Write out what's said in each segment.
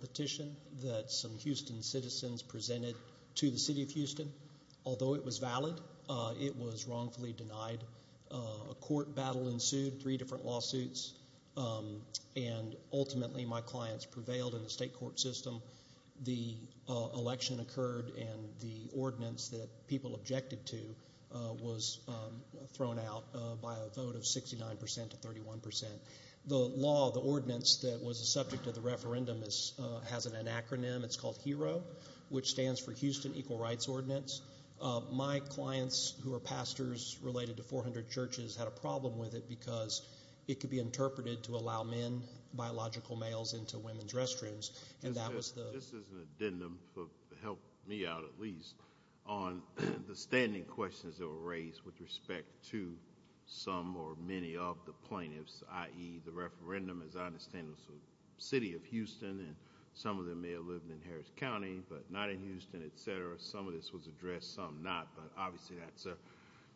petition that some Houston citizens presented to the City of Houston. Although it was valid, it was wrongfully denied. A court battle ensued, three different lawsuits, and ultimately my clients prevailed in the state court system. The election occurred and the ordinance that people objected to was thrown out by a vote of 69% to 31%. The law, the ordinance that was a subject of the referendum has an acronym, it's called HERO, which stands for Houston Equal Rights Ordinance. My clients who are pastors related to 400 churches had a problem with it because it could be interpreted to allow men, biological males, into women's restrooms, and that was the... This is an addendum to help me out, at least, on the standing questions that were raised with respect to some or many of the plaintiffs, i.e., the referendum, as I understand, was in the City of Houston, and some of them may have lived in Harris County, but not in Houston, etc. Some of this was addressed, some not, but obviously that's a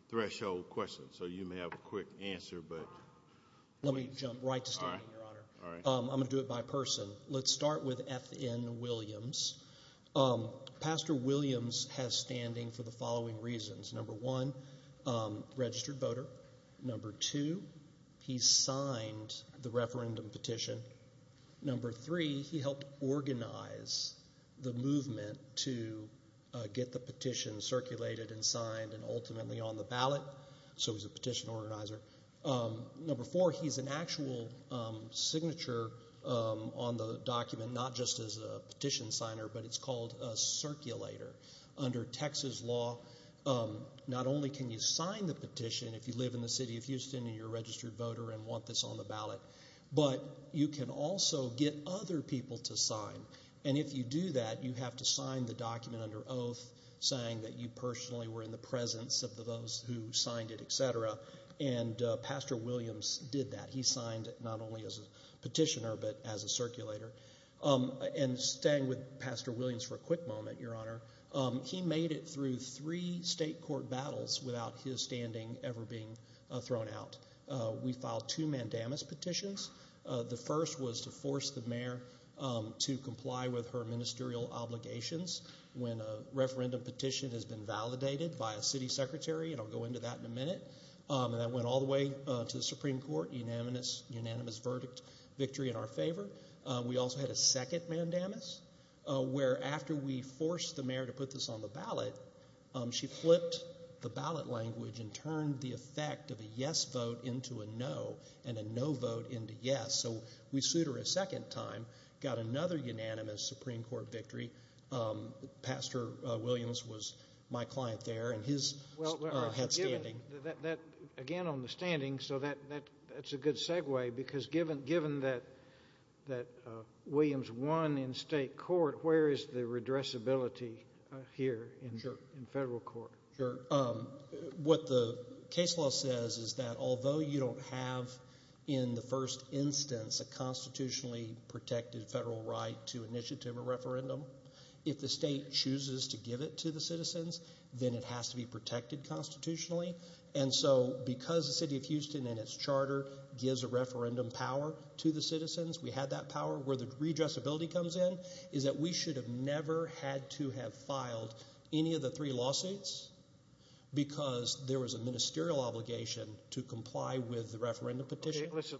threshold question, so you may have a quick answer, but... Let me jump right to standing, Your Honor. All right. I'm going to do it by person. Let's start with F. N. Williams. Pastor Williams has standing for the following reasons. Number one, registered voter. Number two, he signed the referendum petition. Number three, he helped organize the movement to get the petition circulated and signed and ultimately on the ballot, so he's a petition organizer. Number four, he's an actual signature on the document, not just as a petition signer, but it's called a circulator. Under Texas law, not only can you sign the petition if you live in the City of Houston and you're a registered voter and want this on the ballot, but you can also get other people to sign, and if you do that, you have to sign the document under oath, saying that you personally were in the presence of those who signed it, etc., and Pastor Williams did that. He signed not only as a petitioner, but as a circulator. And staying with Pastor Williams for a quick moment, Your Honor, he made it through three state court battles without his standing ever being thrown out. We filed two mandamus petitions. The first was to force the mayor to comply with her ministerial obligations when a referendum petition has been validated by a city secretary, and I'll go into that in a minute, and that went all the way to the Supreme Court, unanimous verdict, victory in our favor. We also had a second mandamus, where after we forced the mayor to put this on the ballot, she flipped the ballot language and turned the effect of a yes vote into a no, and a no vote into yes, so we sued her a second time, got another unanimous Supreme Court victory. Pastor Williams was my client there, and his had standing. Well, again, on the standing, so that's a good segue, because given that Williams won in state court, where is the redressability here in federal court? Sure. What the case law says is that although you don't have, in the first instance, a constitutionally protected federal right to initiative a referendum, if the state chooses to give it to the citizens, then it has to be protected constitutionally, and so because the city of Houston and its charter gives a referendum power to the citizens, we had that power, where the redressability comes in is that we should have never had to have filed any of the three lawsuits because there was a ministerial obligation to comply with the referendum petition. Let's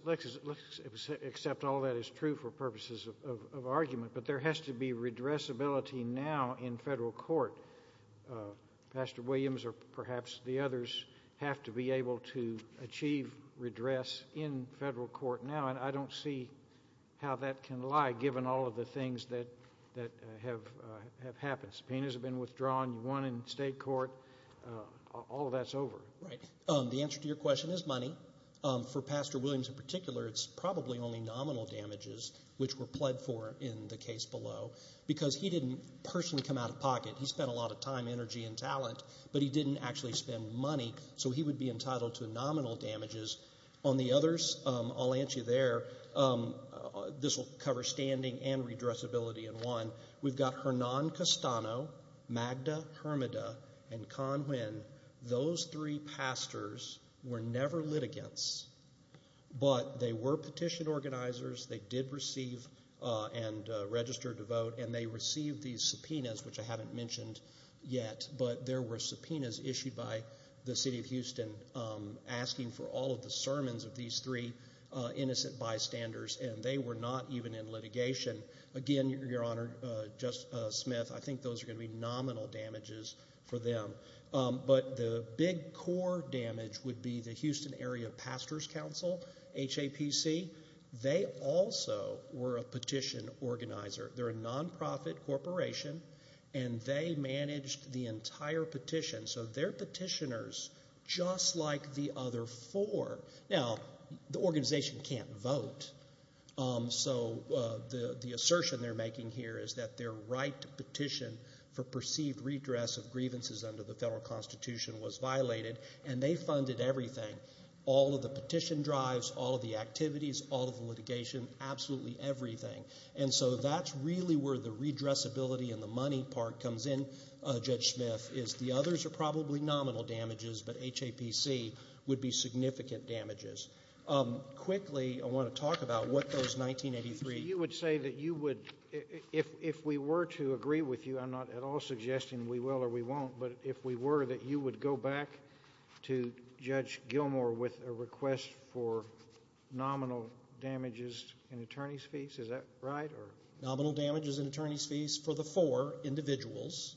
accept all that is true for purposes of argument, but there has to be redressability now in federal court. Pastor Williams or perhaps the others have to be able to achieve redress in federal court now, and I don't see how that can lie, given all of the things that have happened. Subpoenas have been withdrawn, you won in state court, all of that's over. The answer to your question is money. For Pastor Williams in particular, it's probably only nominal damages, which were pled for in the case below, because he didn't personally come out of pocket. He spent a lot of time, energy, and talent, but he didn't actually spend money, so he would be entitled to nominal damages. On the others, I'll answer you there. This will cover standing and redressability in one. We've got Hernan Castano, Magda Hermida, and Conwin. Those three pastors were never litigants, but they were petition organizers, they did receive and register to vote, and they received these subpoenas, which I haven't mentioned yet, but there were subpoenas issued by the city of Houston asking for all of the sermons of these three innocent bystanders, and they were not even in litigation. Again, Your Honor, Justice Smith, I think those are going to be nominal damages for them, but the big core damage would be the Houston Area Pastors Council, HAPC. They also were a petition organizer. They're a non-profit corporation, and they managed the entire petition, so they're petitioners just like the other four. Now, the organization can't vote, so the assertion they're making here is that their right to petition for perceived redress of grievances under the federal constitution was violated, and they funded everything. All of the petition drives, all of the activities, all of the litigation, absolutely everything. And so that's really where the redressability and the money part comes in, Judge Smith, is the others are probably nominal damages, but HAPC would be significant damages. Quickly, I want to talk about what those 1983- You would say that you would, if we were to agree with you, I'm not at all suggesting we will or we won't, but if we were, that you would go back to Judge Gilmour with a request for nominal damages and attorney's fees, is that right? Nominal damages and attorney's fees for the four individuals,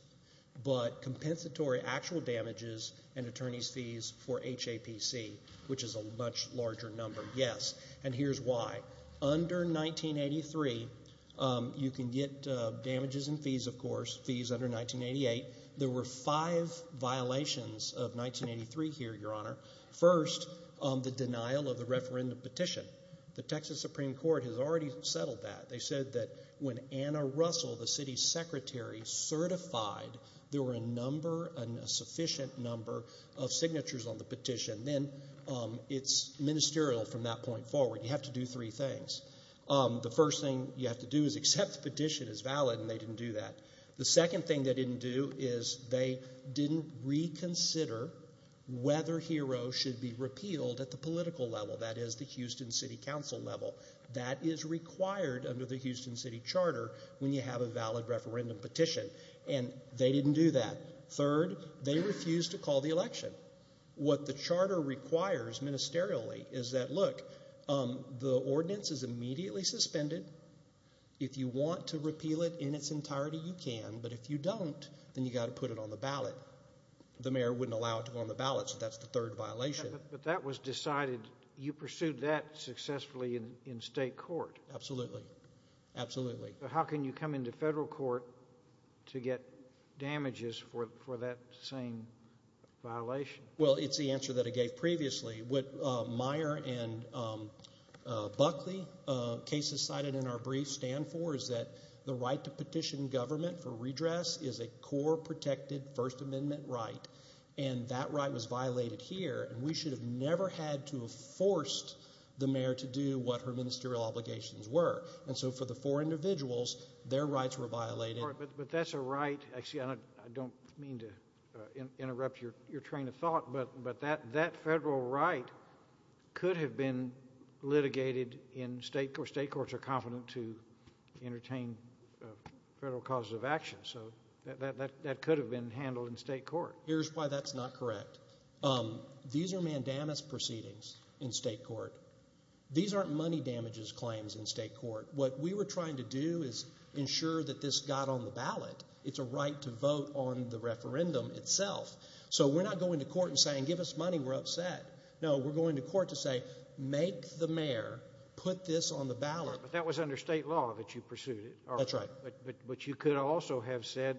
but compensatory actual damages and attorney's fees for HAPC, which is a much larger number, yes, and here's why. Under 1983, you can get damages and fees, of course, fees under 1988. There were five violations of 1983 here, Your Honor. First, the denial of the referendum petition. The Texas Supreme Court has already settled that. They said that when Anna Russell, the city's secretary, certified there were a sufficient number of signatures on the petition, then it's ministerial from that point forward. You have to do three things. The first thing you have to do is accept the petition as valid, and they didn't do that. The second thing they didn't do is they didn't reconsider whether Hero should be repealed at the political level, that is, the Houston City Council level. That is required under the Houston City Charter when you have a valid referendum petition, and they didn't do that. Third, they refused to call the election. What the charter requires ministerially is that, look, the ordinance is immediately suspended. If you want to repeal it in its entirety, you can, but if you don't, then you've got to put it on the ballot. The mayor wouldn't allow it to go on the ballot, so that's the third violation. But that was decided. You pursued that successfully in state court. Absolutely, absolutely. How can you come into federal court to get damages for that same violation? Well, it's the answer that I gave previously. What Meyer and Buckley cases cited in our brief stand for is that the right to petition government for redress is a core protected First Amendment right, and that right was violated here, and we should have never had to have forced the mayor to do what her ministerial obligations were. And so for the four individuals, their rights were violated. But that's a right. Actually, I don't mean to interrupt your train of thought, but that federal right could have been litigated in state court. State courts are confident to entertain federal causes of action, so that could have been handled in state court. Here's why that's not correct. These are mandamus proceedings in state court. These aren't money damages claims in state court. What we were trying to do is ensure that this got on the ballot. It's a right to vote on the referendum itself. So we're not going to court and saying, give us money, we're upset. No, we're going to court to say, make the mayor put this on the ballot. But that was under state law that you pursued it. That's right. But you could also have said,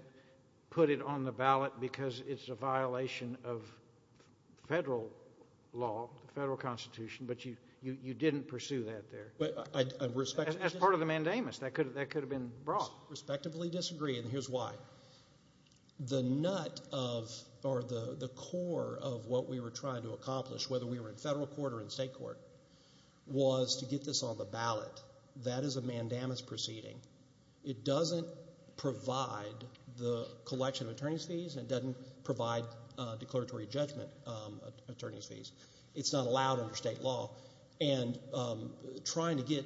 put it on the ballot because it's a violation of federal law, federal constitution, but you didn't pursue that there. As part of the mandamus, that could have been brought. Respectively disagree, and here's why. The nut of or the core of what we were trying to accomplish, whether we were in federal court or in state court, was to get this on the ballot. That is a mandamus proceeding. It doesn't provide the collection of attorney's fees and it doesn't provide declaratory judgment attorney's fees. It's not allowed under state law. And trying to get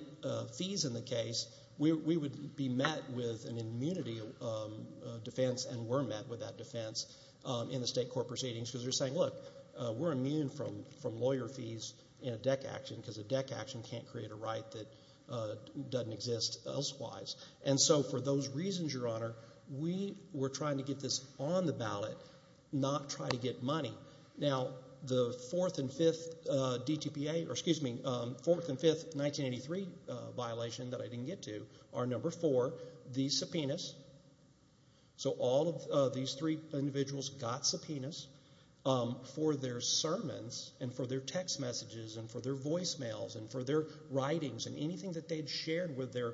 fees in the case, we would be met with an immunity defense and were met with that defense in the state court proceedings because they're saying, look, we're immune from lawyer fees in a deck action that doesn't exist elsewise. And so for those reasons, Your Honor, we were trying to get this on the ballot, not try to get money. Now, the fourth and fifth DTPA, or excuse me, fourth and fifth 1983 violation that I didn't get to are number four, the subpoenas. So all of these three individuals got subpoenas for their sermons and for their text messages and for their voicemails and for their writings and anything that they had shared with their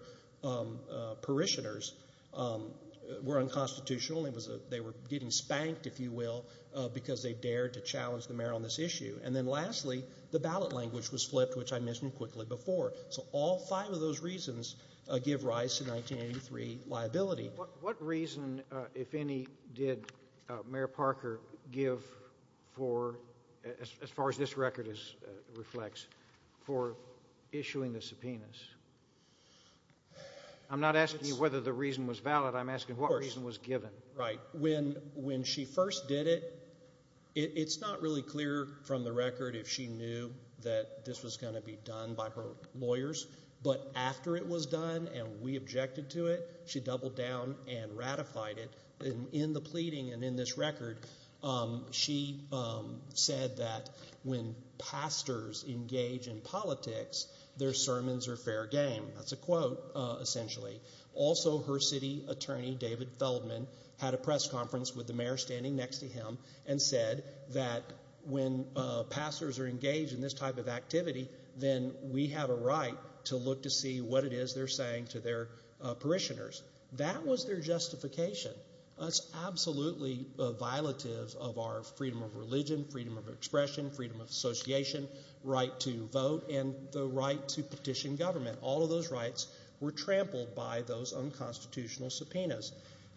parishioners were unconstitutional. They were getting spanked, if you will, because they dared to challenge the mayor on this issue. And then lastly, the ballot language was flipped, which I mentioned quickly before. So all five of those reasons give rise to 1983 liability. What reason, if any, did Mayor Parker give for, as far as this record reflects, for issuing the subpoenas? I'm not asking you whether the reason was valid. I'm asking what reason was given. When she first did it, it's not really clear from the record if she knew that this was going to be done by her lawyers. But after it was done and we objected to it, she doubled down and ratified it. In the pleading and in this record, she said that when pastors engage in politics, their sermons are fair game. That's a quote, essentially. Also, her city attorney, David Feldman, had a press conference with the mayor standing next to him and said that when pastors are engaged in this type of activity, then we have a right to look to see what it is they're saying to their parishioners. That was their justification. That's absolutely violative of our freedom of religion, freedom of expression, freedom of association, right to vote, and the right to petition government. All of those rights were trampled by those unconstitutional subpoenas.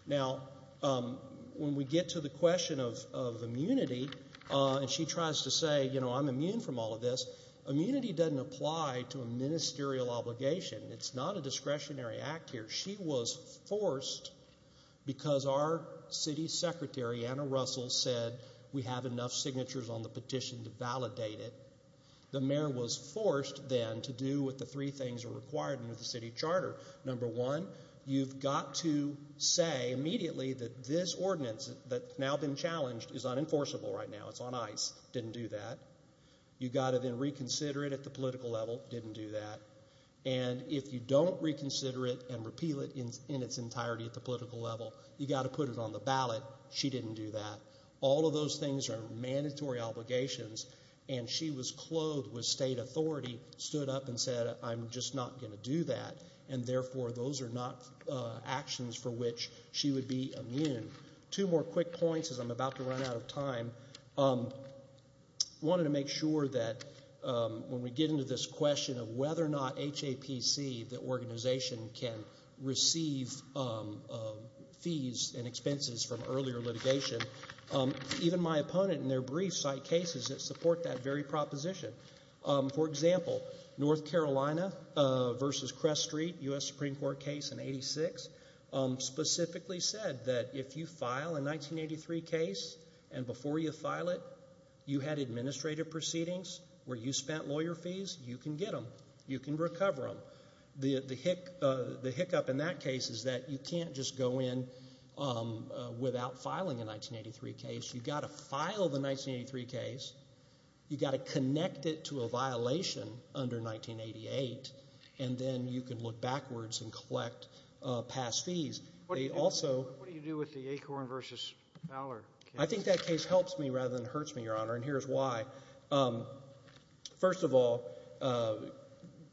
Now, when we get to the question of immunity, and she tries to say, you know, I'm immune from all of this, immunity doesn't apply to a ministerial obligation. It's not a discretionary act here. She was forced because our city secretary, Anna Russell, said we have enough signatures on the petition to validate it. The mayor was forced then to do what the three things are required under the city charter. Number one, you've got to say immediately that this ordinance that's now been challenged is unenforceable right now, it's on ice, didn't do that. You've got to then reconsider it at the political level, didn't do that. And if you don't reconsider it and repeal it in its entirety at the political level, you've got to put it on the ballot, she didn't do that. All of those things are mandatory obligations, and she was clothed with state authority, stood up and said I'm just not going to do that, and therefore those are not actions for which she would be immune. Two more quick points as I'm about to run out of time. I wanted to make sure that when we get into this question of whether or not HAPC, the organization, can receive fees and expenses from earlier litigation, even my opponent in their briefs cite cases that support that very proposition. For example, North Carolina v. Crest Street, U.S. Supreme Court case in 1986, specifically said that if you file a 1983 case and before you file it you had administrative proceedings where you spent lawyer fees, you can get them, you can recover them. The hiccup in that case is that you can't just go in without filing a 1983 case. You've got to file the 1983 case, you've got to connect it to a violation under 1988, and then you can look backwards and collect past fees. What do you do with the Acorn v. Fowler case? I think that case helps me rather than hurts me, Your Honor, and here's why. First of all,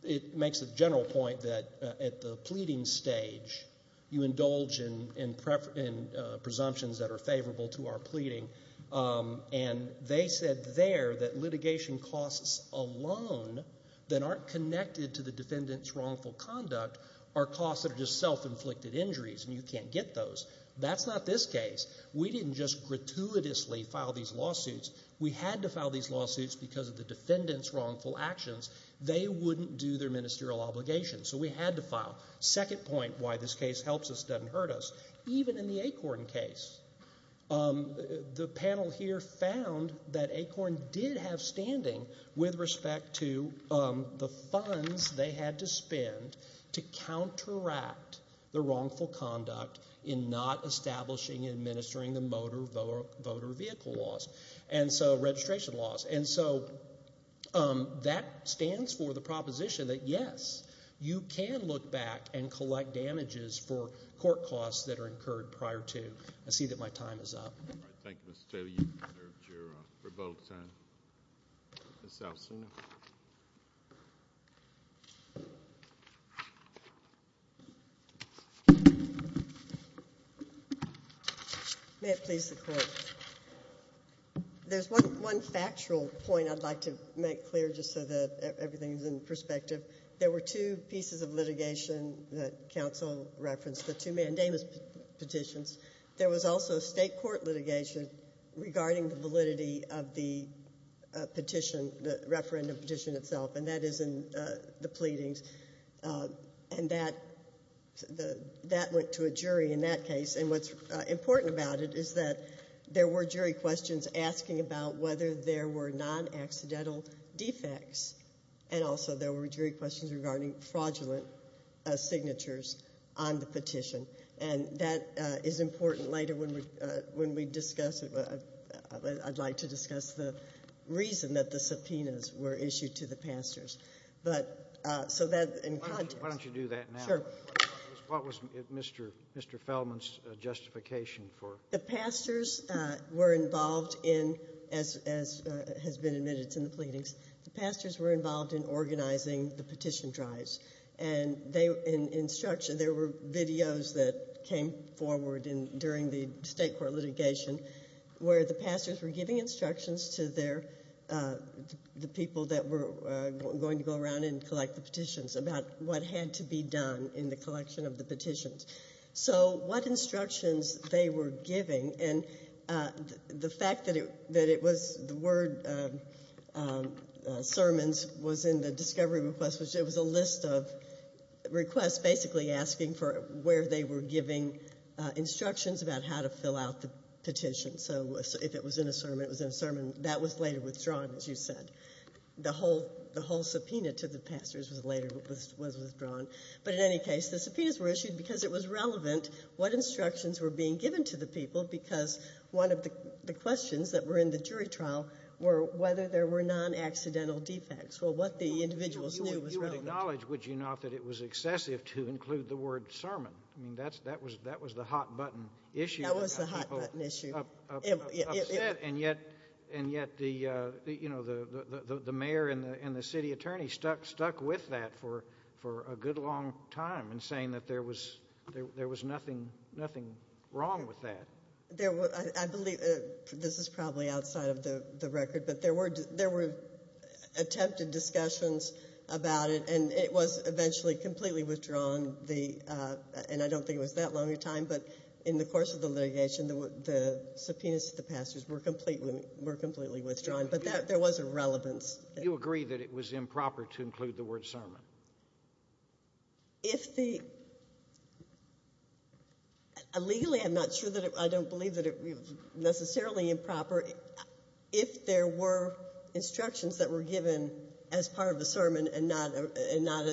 it makes a general point that at the pleading stage, you indulge in presumptions that are favorable to our pleading, and they said there that litigation costs alone that aren't connected to the defendant's wrongful conduct are costs that are just self-inflicted injuries, and you can't get those. That's not this case. We didn't just gratuitously file these lawsuits. We had to file these lawsuits because of the defendant's wrongful actions. They wouldn't do their ministerial obligations, so we had to file. Second point why this case helps us, doesn't hurt us, even in the Acorn case, the panel here found that Acorn did have standing with respect to the funds they had to spend to counteract the wrongful conduct in not establishing and administering the motor vehicle laws, and so registration laws. And so that stands for the proposition that, yes, you can look back and collect damages for court costs that are incurred prior to. I see that my time is up. All right. Thank you, Mr. Taylor. You've served your rebuttal time. Ms. Elson. May it please the Court. There's one factual point I'd like to make clear just so that everything is in perspective. There were two pieces of litigation that counsel referenced, the two mandamus petitions. There was also state court litigation regarding the validity of the petition, the referendum petition itself, and that is in the pleadings, and that went to a jury in that case. And what's important about it is that there were jury questions asking about whether there were non-accidental defects, and also there were jury questions regarding fraudulent signatures on the petition. And that is important later when we discuss it. I'd like to discuss the reason that the subpoenas were issued to the pastors. So that in context. Why don't you do that now? Sure. What was Mr. Feldman's justification for it? The pastors were involved in, as has been admitted to the pleadings, the pastors were involved in organizing the petition drives. And in instruction, there were videos that came forward during the state court litigation where the pastors were giving instructions to the people that were going to go around and collect the petitions about what had to be done in the collection of the petitions. So what instructions they were giving, and the fact that it was the word sermons was in the discovery request, which it was a list of requests basically asking for where they were giving instructions about how to fill out the petition. So if it was in a sermon, it was in a sermon. That was later withdrawn, as you said. The whole subpoena to the pastors was later withdrawn. But in any case, the subpoenas were issued because it was relevant what instructions were being given to the people because one of the questions that were in the jury trial were whether there were non-accidental defects or what the individuals knew was relevant. You would acknowledge, would you not, that it was excessive to include the word sermon? I mean, that was the hot-button issue. That was the hot-button issue. And yet the mayor and the city attorney stuck with that for a good long time in saying that there was nothing wrong with that. I believe this is probably outside of the record, but there were attempted discussions about it, and it was eventually completely withdrawn, and I don't think it was that long a time. But in the course of the litigation, the subpoenas to the pastors were completely withdrawn. But there was a relevance. You agree that it was improper to include the word sermon? Legally, I don't believe that it was necessarily improper. If there were instructions that were given as part of the sermon and the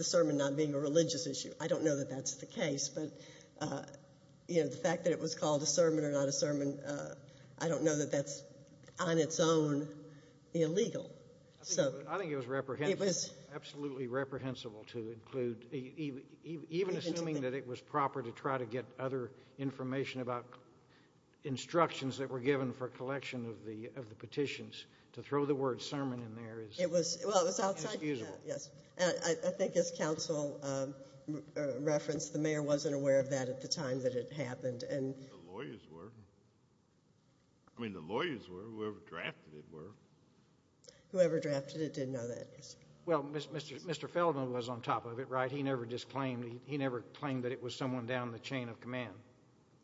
sermon not being a religious issue, I don't know that that's the case, but the fact that it was called a sermon or not a sermon, I don't know that that's on its own illegal. I think it was absolutely reprehensible to include, even assuming that it was proper to try to get other information about instructions that were given for collection of the petitions. To throw the word sermon in there is excusable. I think as counsel referenced, the mayor wasn't aware of that at the time that it happened. The lawyers were. I mean, the lawyers were. Whoever drafted it were. Whoever drafted it did know that. Well, Mr. Feldman was on top of it, right? He never claimed that it was someone down the chain of command.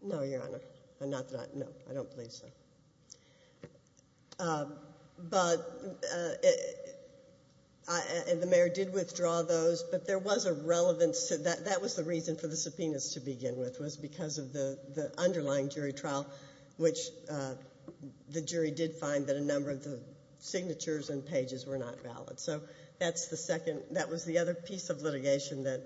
No, Your Honor. No, I don't believe so. But the mayor did withdraw those, but there was a relevance. That was the reason for the subpoenas to begin with was because of the underlying jury trial, which the jury did find that a number of the signatures and pages were not valid. So that's the second. That was the other piece of litigation that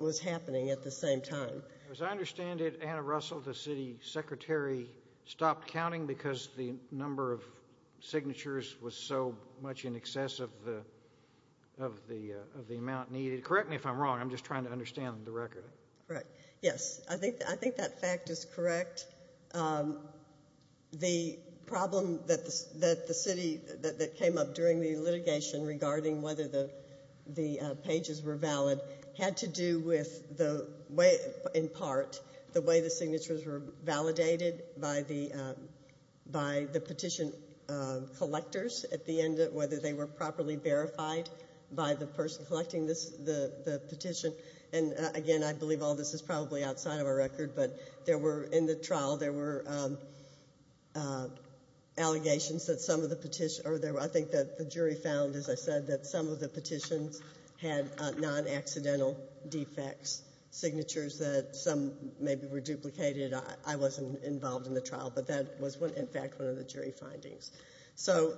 was happening at the same time. As I understand it, Anna Russell, the city secretary, stopped counting because the number of signatures was so much in excess of the amount needed. Correct me if I'm wrong. I'm just trying to understand the record. Correct. Yes, I think that fact is correct. The problem that the city that came up during the litigation regarding whether the pages were valid had to do with, in part, the way the signatures were validated by the petition collectors at the end of whether they were properly verified by the person collecting the petition. And, again, I believe all this is probably outside of our record, but in the trial there were allegations that some of the petitioners I think that the jury found, as I said, that some of the petitions had non-accidental defects, signatures that some maybe were duplicated. I wasn't involved in the trial, but that was, in fact, one of the jury findings. So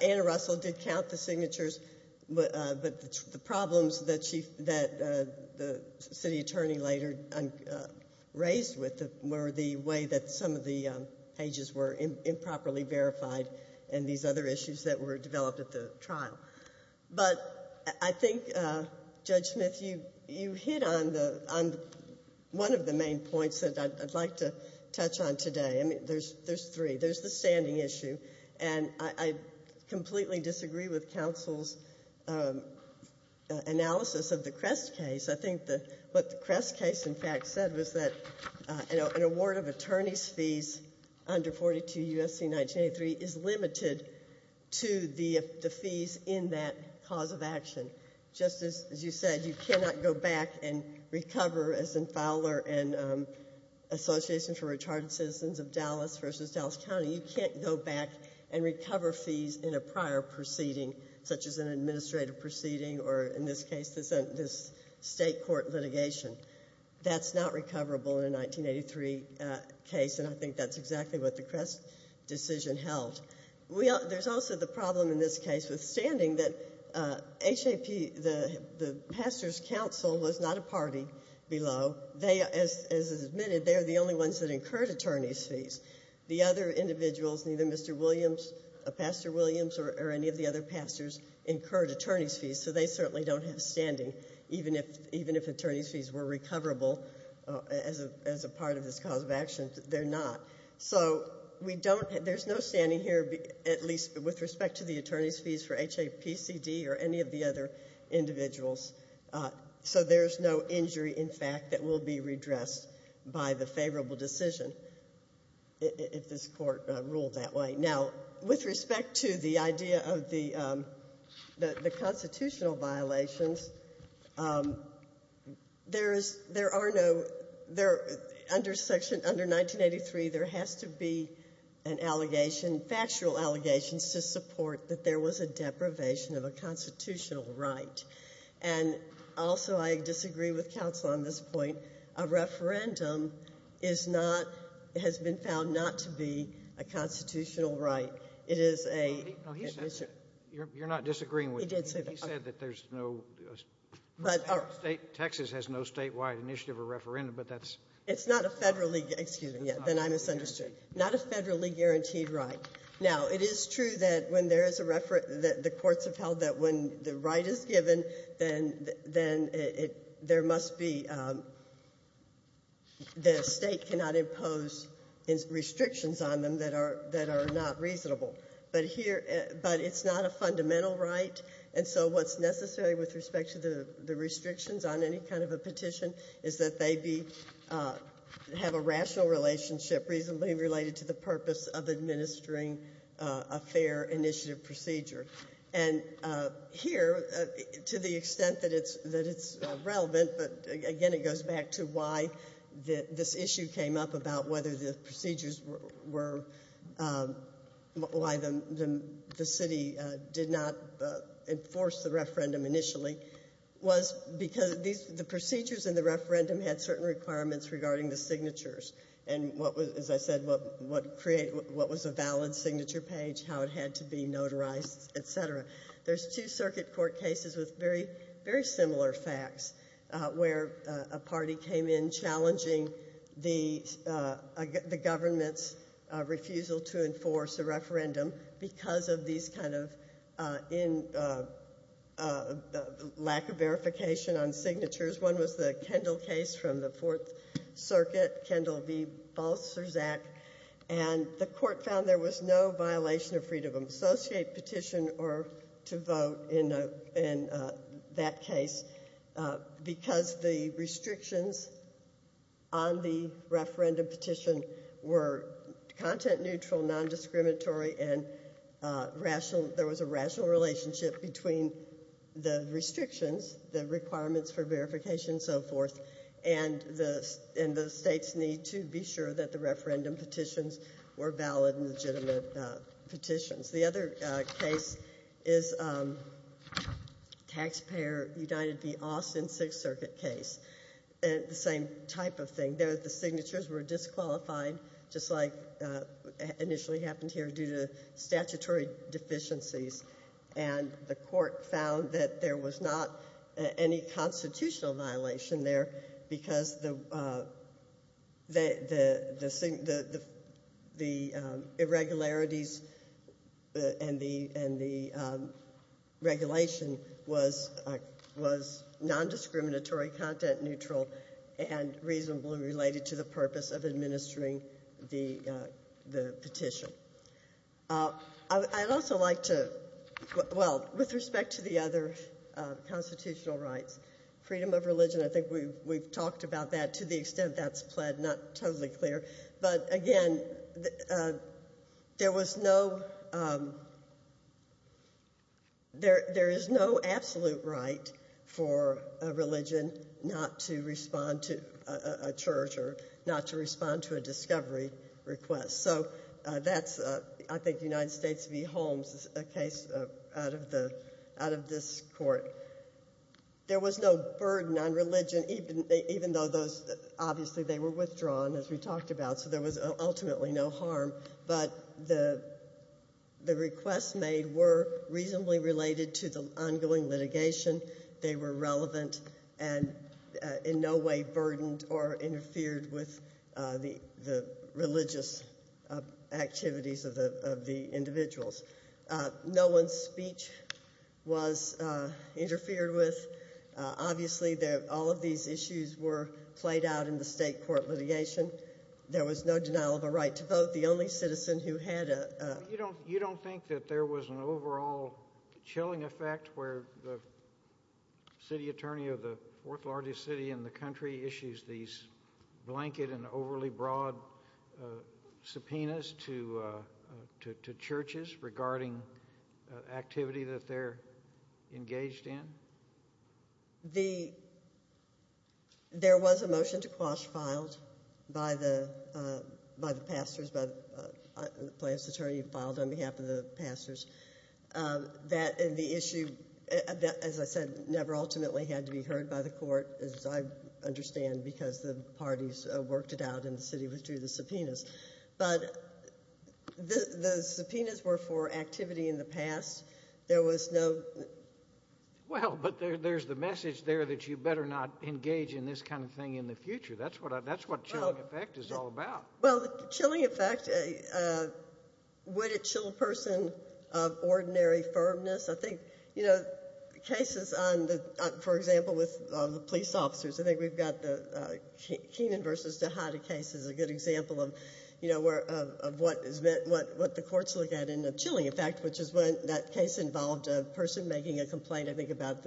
Anna Russell did count the signatures, but the problems that the city attorney later raised with it and these other issues that were developed at the trial. But I think, Judge Smith, you hit on one of the main points that I'd like to touch on today. There's three. There's the standing issue, and I completely disagree with counsel's analysis of the Crest case. I think what the Crest case, in fact, said was that an award of attorney's fees under 42 U.S.C. 1983 is limited to the fees in that cause of action. Just as you said, you cannot go back and recover, as in Fowler and Association for Recharged Citizens of Dallas versus Dallas County, you can't go back and recover fees in a prior proceeding, such as an administrative proceeding or, in this case, this state court litigation. That's not recoverable in a 1983 case, and I think that's exactly what the Crest decision held. There's also the problem in this case with standing that HAP, the pastor's counsel, was not a party below. They, as is admitted, they are the only ones that incurred attorney's fees. The other individuals, neither Mr. Williams, Pastor Williams, or any of the other pastors, incurred attorney's fees, so they certainly don't have standing. Even if attorney's fees were recoverable as a part of this cause of action, they're not. So there's no standing here, at least with respect to the attorney's fees for HAPCD or any of the other individuals. So there's no injury, in fact, that will be redressed by the favorable decision. If this court ruled that way. Now, with respect to the idea of the constitutional violations, there is, there are no, under section, under 1983, there has to be an allegation, factual allegations, to support that there was a deprivation of a constitutional right. And also, I disagree with counsel on this point. A referendum is not, has been found not to be a constitutional right. It is a. No, he said, you're not disagreeing with him. He did say that. He said that there's no, Texas has no statewide initiative or referendum, but that's. It's not a federally, excuse me, then I misunderstood. Not a federally guaranteed right. Now, it is true that when there is a, the courts have held that when the right is given, then there must be, the state cannot impose restrictions on them that are not reasonable. But here, but it's not a fundamental right. And so what's necessary with respect to the restrictions on any kind of a petition is that they be, have a rational relationship reasonably related to the purpose of administering a fair initiative procedure. And here, to the extent that it's relevant, but again, it goes back to why this issue came up about whether the procedures were, why the city did not enforce the referendum initially, was because the procedures in the referendum had certain requirements regarding the signatures. And what was, as I said, what created, what was a valid signature page, how it had to be notarized, et cetera. There's two circuit court cases with very, very similar facts, where a party came in challenging the government's refusal to enforce a referendum because of these kind of lack of verification on signatures. One was the Kendall case from the Fourth Circuit, Kendall v. Balzerzak. And the court found there was no violation of freedom of associate petition or to vote in that case because the restrictions on the referendum petition were content neutral, non-discriminatory, and rational, there was a rational relationship between the restrictions, the requirements for verification and so forth, and the state's need to be sure that the referendum petitions were valid and legitimate petitions. The other case is Taxpayer United v. Austin Sixth Circuit case, the same type of thing. The signatures were disqualified, just like initially happened here due to statutory deficiencies, and the court found that there was not any constitutional violation there because the irregularities and the regulation was non-discriminatory, content neutral, and reasonably related to the purpose of administering the petition. I'd also like to, well, with respect to the other constitutional rights, freedom of religion, I think we've talked about that to the extent that's pled not totally clear. But, again, there was no, there is no absolute right for a religion not to respond to a church or not to respond to a discovery request. So that's, I think, United States v. Holmes case out of this court. There was no burden on religion, even though those, obviously, they were withdrawn, as we talked about, so there was ultimately no harm. But the requests made were reasonably related to the ongoing litigation. They were relevant and in no way burdened or interfered with the religious activities of the individuals. No one's speech was interfered with. Obviously, all of these issues were played out in the state court litigation. There was no denial of a right to vote. The only citizen who had a— You don't think that there was an overall chilling effect where the city attorney of the fourth-largest city in the country issues these blanket and overly broad subpoenas to churches regarding activity that they're engaged in? There was a motion to quash filed by the pastors, by the plaintiff's attorney filed on behalf of the pastors. That and the issue, as I said, never ultimately had to be heard by the court, as I understand, because the parties worked it out and the city withdrew the subpoenas. But the subpoenas were for activity in the past. There was no— Well, but there's the message there that you better not engage in this kind of thing in the future. That's what chilling effect is all about. Well, the chilling effect, would it chill a person of ordinary firmness? I think, you know, cases on the—for example, with the police officers. I think we've got the Keenan v. Tejada case is a good example of what the courts look at in the chilling effect, which is when that case involved a person making a complaint, I think, about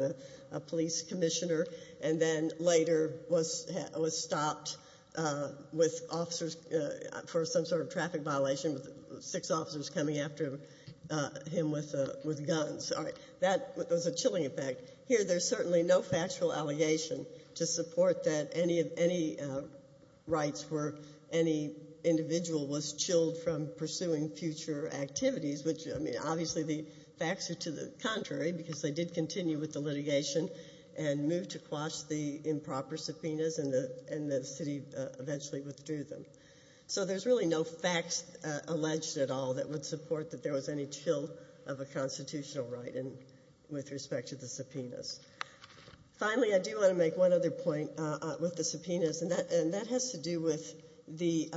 a police commissioner and then later was stopped with officers for some sort of traffic violation with six officers coming after him with guns. All right. That was a chilling effect. Here there's certainly no factual allegation to support that any rights for any individual was chilled from pursuing future activities, which, I mean, obviously the facts are to the contrary because they did continue with the litigation and moved to quash the improper subpoenas and the city eventually withdrew them. So there's really no facts alleged at all that would support that there was any chill of a constitutional right with respect to the subpoenas. Finally, I do want to make one other point with the subpoenas, and that has to do with the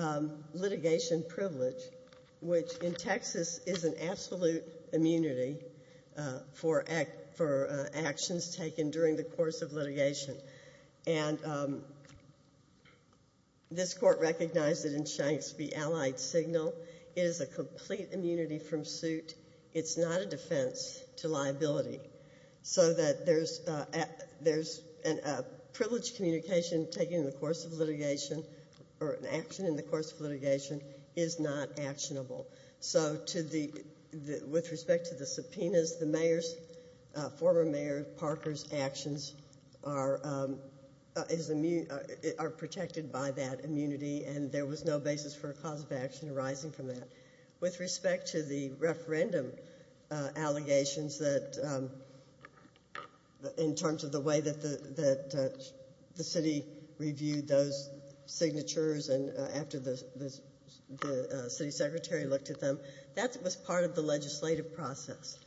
litigation privilege, which in Texas is an absolute immunity for actions taken during the course of litigation. And this court recognized it in Shanks v. Allied Signal. It is a complete immunity from suit. It's not a defense to liability. So that there's a privilege communication taken in the course of litigation or an action in the course of litigation is not actionable. So with respect to the subpoenas, the former Mayor Parker's actions are protected by that immunity, and there was no basis for a cause of action arising from that. With respect to the referendum allegations in terms of the way that the city reviewed those signatures and after the city secretary looked at them, that was part of the legislative process.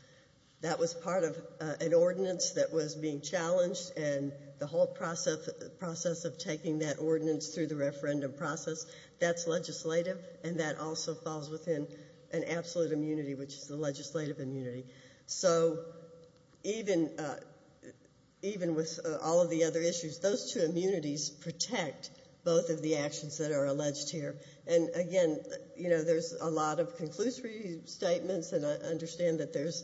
That was part of an ordinance that was being challenged, and the whole process of taking that ordinance through the referendum process, that's legislative, and that also falls within an absolute immunity, which is the legislative immunity. So even with all of the other issues, those two immunities protect both of the actions that are alleged here. And again, you know, there's a lot of conclusive statements, and I understand that there's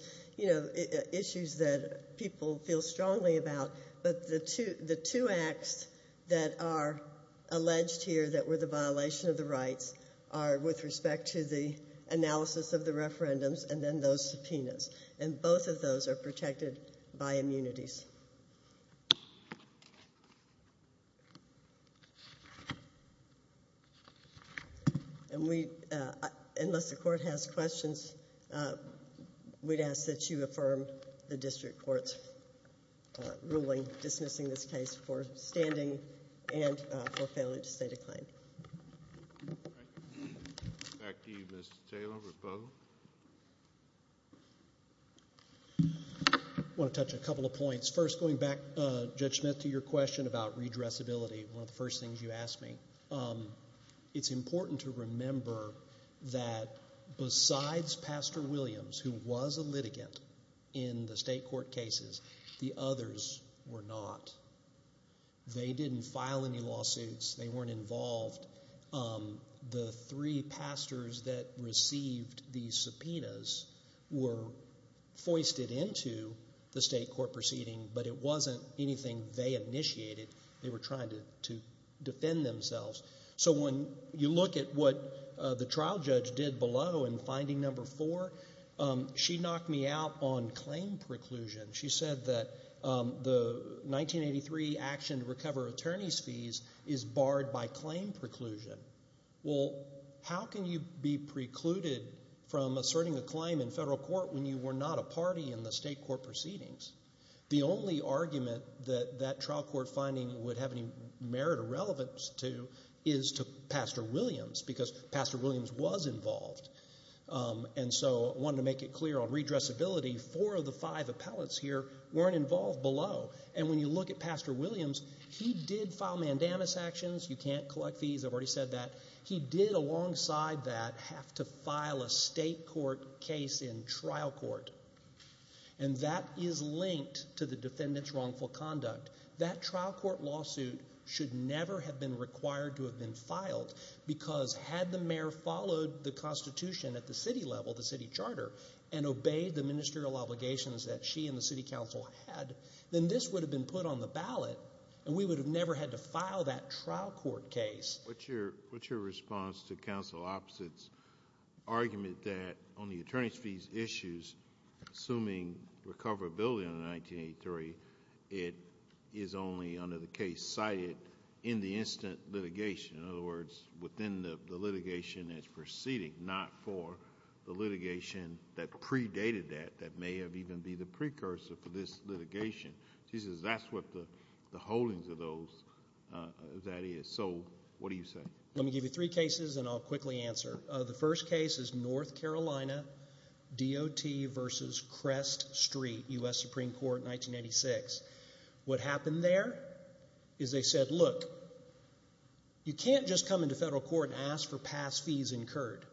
issues that people feel strongly about, but the two acts that are alleged here that were the violation of the rights are with respect to the analysis of the referendums and then those subpoenas, and both of those are protected by immunities. And we, unless the court has questions, we'd ask that you affirm the district court's ruling dismissing this case for standing and for failing to state a claim. Thank you. Back to you, Mr. Taylor. I want to touch a couple of points. First, going back, Judge Smith, to your question about redressability, one of the first things you asked me, it's important to remember that besides Pastor Williams, who was a litigant in the state court cases, the others were not. They didn't file any lawsuits. They weren't involved. The three pastors that received these subpoenas were foisted into the state court proceeding, but it wasn't anything they initiated. They were trying to defend themselves. So when you look at what the trial judge did below in finding number four, she knocked me out on claim preclusion. She said that the 1983 action to recover attorney's fees is barred by claim preclusion. Well, how can you be precluded from asserting a claim in federal court when you were not a party in the state court proceedings? The only argument that that trial court finding would have any merit or relevance to is to Pastor Williams because Pastor Williams was involved. And so I wanted to make it clear on redressability, four of the five appellates here weren't involved below, and when you look at Pastor Williams, he did file mandamus actions. You can't collect fees. I've already said that. He did, alongside that, have to file a state court case in trial court, and that is linked to the defendant's wrongful conduct. That trial court lawsuit should never have been required to have been filed because had the mayor followed the Constitution at the city level, the city charter, and obeyed the ministerial obligations that she and the city council had, then this would have been put on the ballot and we would have never had to file that trial court case. What's your response to counsel Opposite's argument that on the attorney's fees issues, assuming recoverability under 1983, it is only under the case cited in the instant litigation, in other words, within the litigation that's proceeding, not for the litigation that predated that, that may have even been the precursor for this litigation? She says that's what the holdings of that is. So what do you say? Let me give you three cases and I'll quickly answer. The first case is North Carolina, DOT versus Crest Street, U.S. Supreme Court, 1986. What happened there is they said, look, you can't just come into federal court and ask for past fees incurred.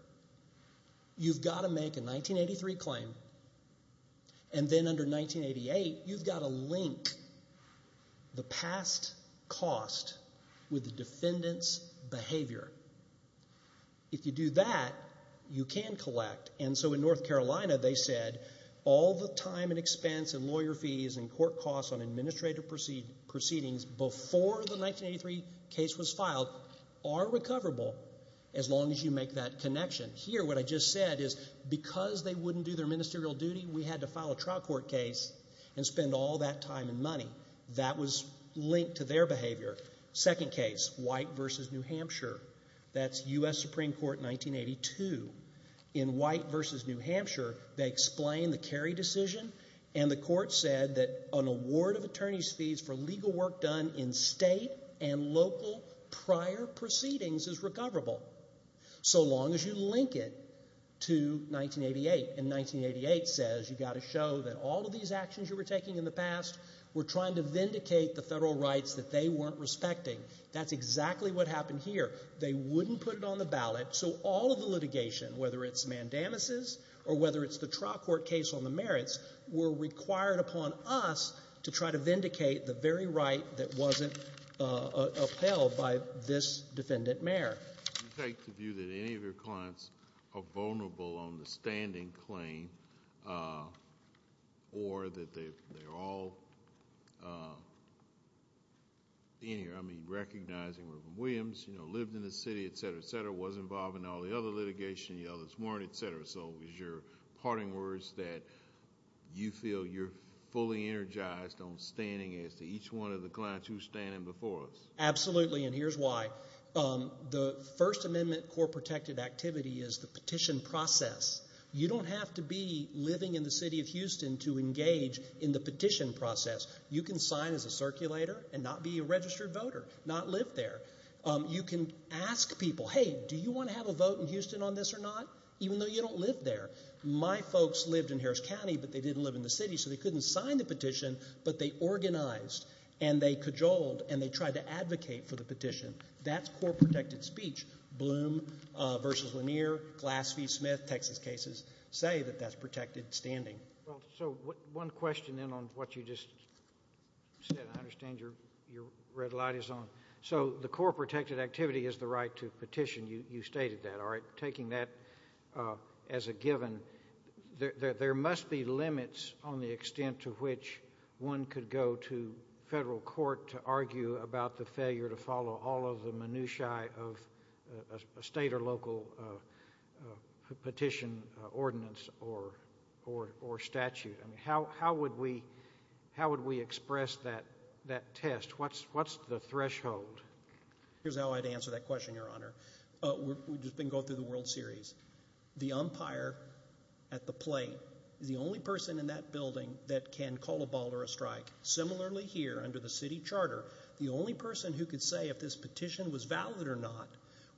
You've got to make a 1983 claim and then under 1988 you've got to link the past cost with the defendant's behavior. If you do that, you can collect, and so in North Carolina they said all the time and expense and lawyer fees and court costs on administrative proceedings before the 1983 case was filed are recoverable as long as you make that connection. Here, what I just said is because they wouldn't do their ministerial duty, we had to file a trial court case and spend all that time and money. That was linked to their behavior. Second case, White versus New Hampshire. That's U.S. Supreme Court, 1982. In White versus New Hampshire, they explained the Kerry decision and the court said that an award of attorney's fees for legal work done in state and local prior proceedings is recoverable so long as you link it to 1988. And 1988 says you've got to show that all of these actions you were taking in the past were trying to vindicate the federal rights that they weren't respecting. That's exactly what happened here. They wouldn't put it on the ballot, so all of the litigation, whether it's mandamuses or whether it's the trial court case on the merits, were required upon us to try to vindicate the very right that wasn't upheld by this defendant mayor. Do you take the view that any of your clients are vulnerable on the standing claim or that they're all in here? I mean, recognizing that Williams lived in the city, et cetera, et cetera, and he was involved in all the other litigation, the others weren't, et cetera, so is your parting words that you feel you're fully energized on standing as to each one of the clients who's standing before us? Absolutely, and here's why. The First Amendment court-protected activity is the petition process. You don't have to be living in the city of Houston to engage in the petition process. You can sign as a circulator and not be a registered voter, not live there. You can ask people, hey, do you want to have a vote in Houston on this or not, even though you don't live there? My folks lived in Harris County, but they didn't live in the city, so they couldn't sign the petition, but they organized and they cajoled and they tried to advocate for the petition. That's court-protected speech. Bloom v. Lanier, Glass-Fee Smith, Texas cases, say that that's protected standing. So one question then on what you just said. I understand your red light is on. So the court-protected activity is the right to petition. You stated that. Taking that as a given, there must be limits on the extent to which one could go to federal court to argue about the failure to follow all of the minutiae of a state or local petition ordinance or statute. How would we express that test? What's the threshold? Here's how I'd answer that question, Your Honor. We can go through the World Series. The umpire at the plate is the only person in that building that can call a ball or a strike. Similarly here under the city charter, the only person who could say if this petition was valid or not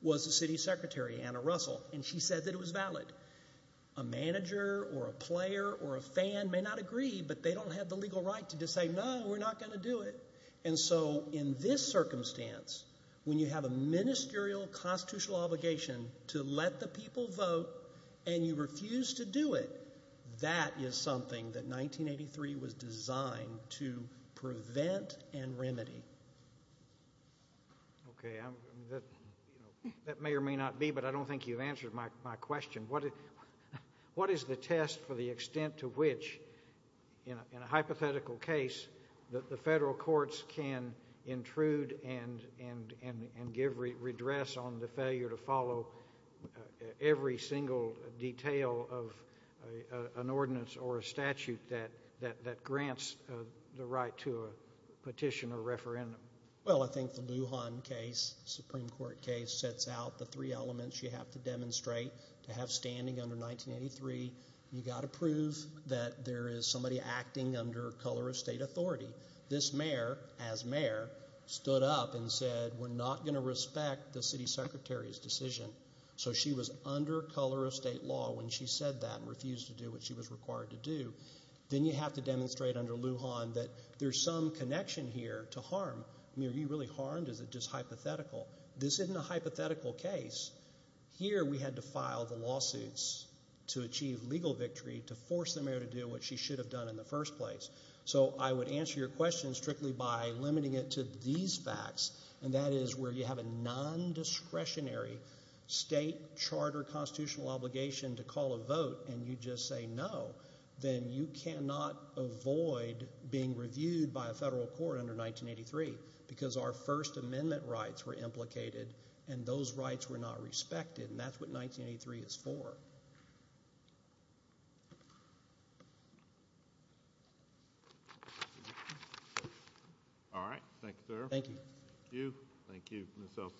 was the city secretary, Anna Russell, and she said that it was valid. A manager or a player or a fan may not agree, but they don't have the legal right to just say, no, we're not going to do it. And so in this circumstance, when you have a ministerial constitutional obligation to let the people vote and you refuse to do it, that is something that 1983 was designed to prevent and remedy. Okay. That may or may not be, but I don't think you've answered my question. What is the test for the extent to which, in a hypothetical case, the federal courts can intrude and give redress on the failure to follow every single detail of an ordinance or a statute that grants the right to a petition or referendum? Well, I think the Lujan case, Supreme Court case, sets out the three elements you have to demonstrate to have standing under 1983. You've got to prove that there is somebody acting under color of state authority. This mayor, as mayor, stood up and said, we're not going to respect the city secretary's decision. So she was under color of state law when she said that and refused to do what she was required to do. Then you have to demonstrate under Lujan that there's some connection here to harm. I mean, are you really harmed? Is it just hypothetical? This isn't a hypothetical case. Here we had to file the lawsuits to achieve legal victory, to force the mayor to do what she should have done in the first place. So I would answer your question strictly by limiting it to these facts, and that is where you have a non-discretionary state charter constitutional obligation to call a vote and you just say no, then you cannot avoid being reviewed by a federal court under 1983 because our First Amendment rights were implicated and those rights were not respected, and that's what 1983 is for. All right. Thank you, sir. Thank you. Thank you.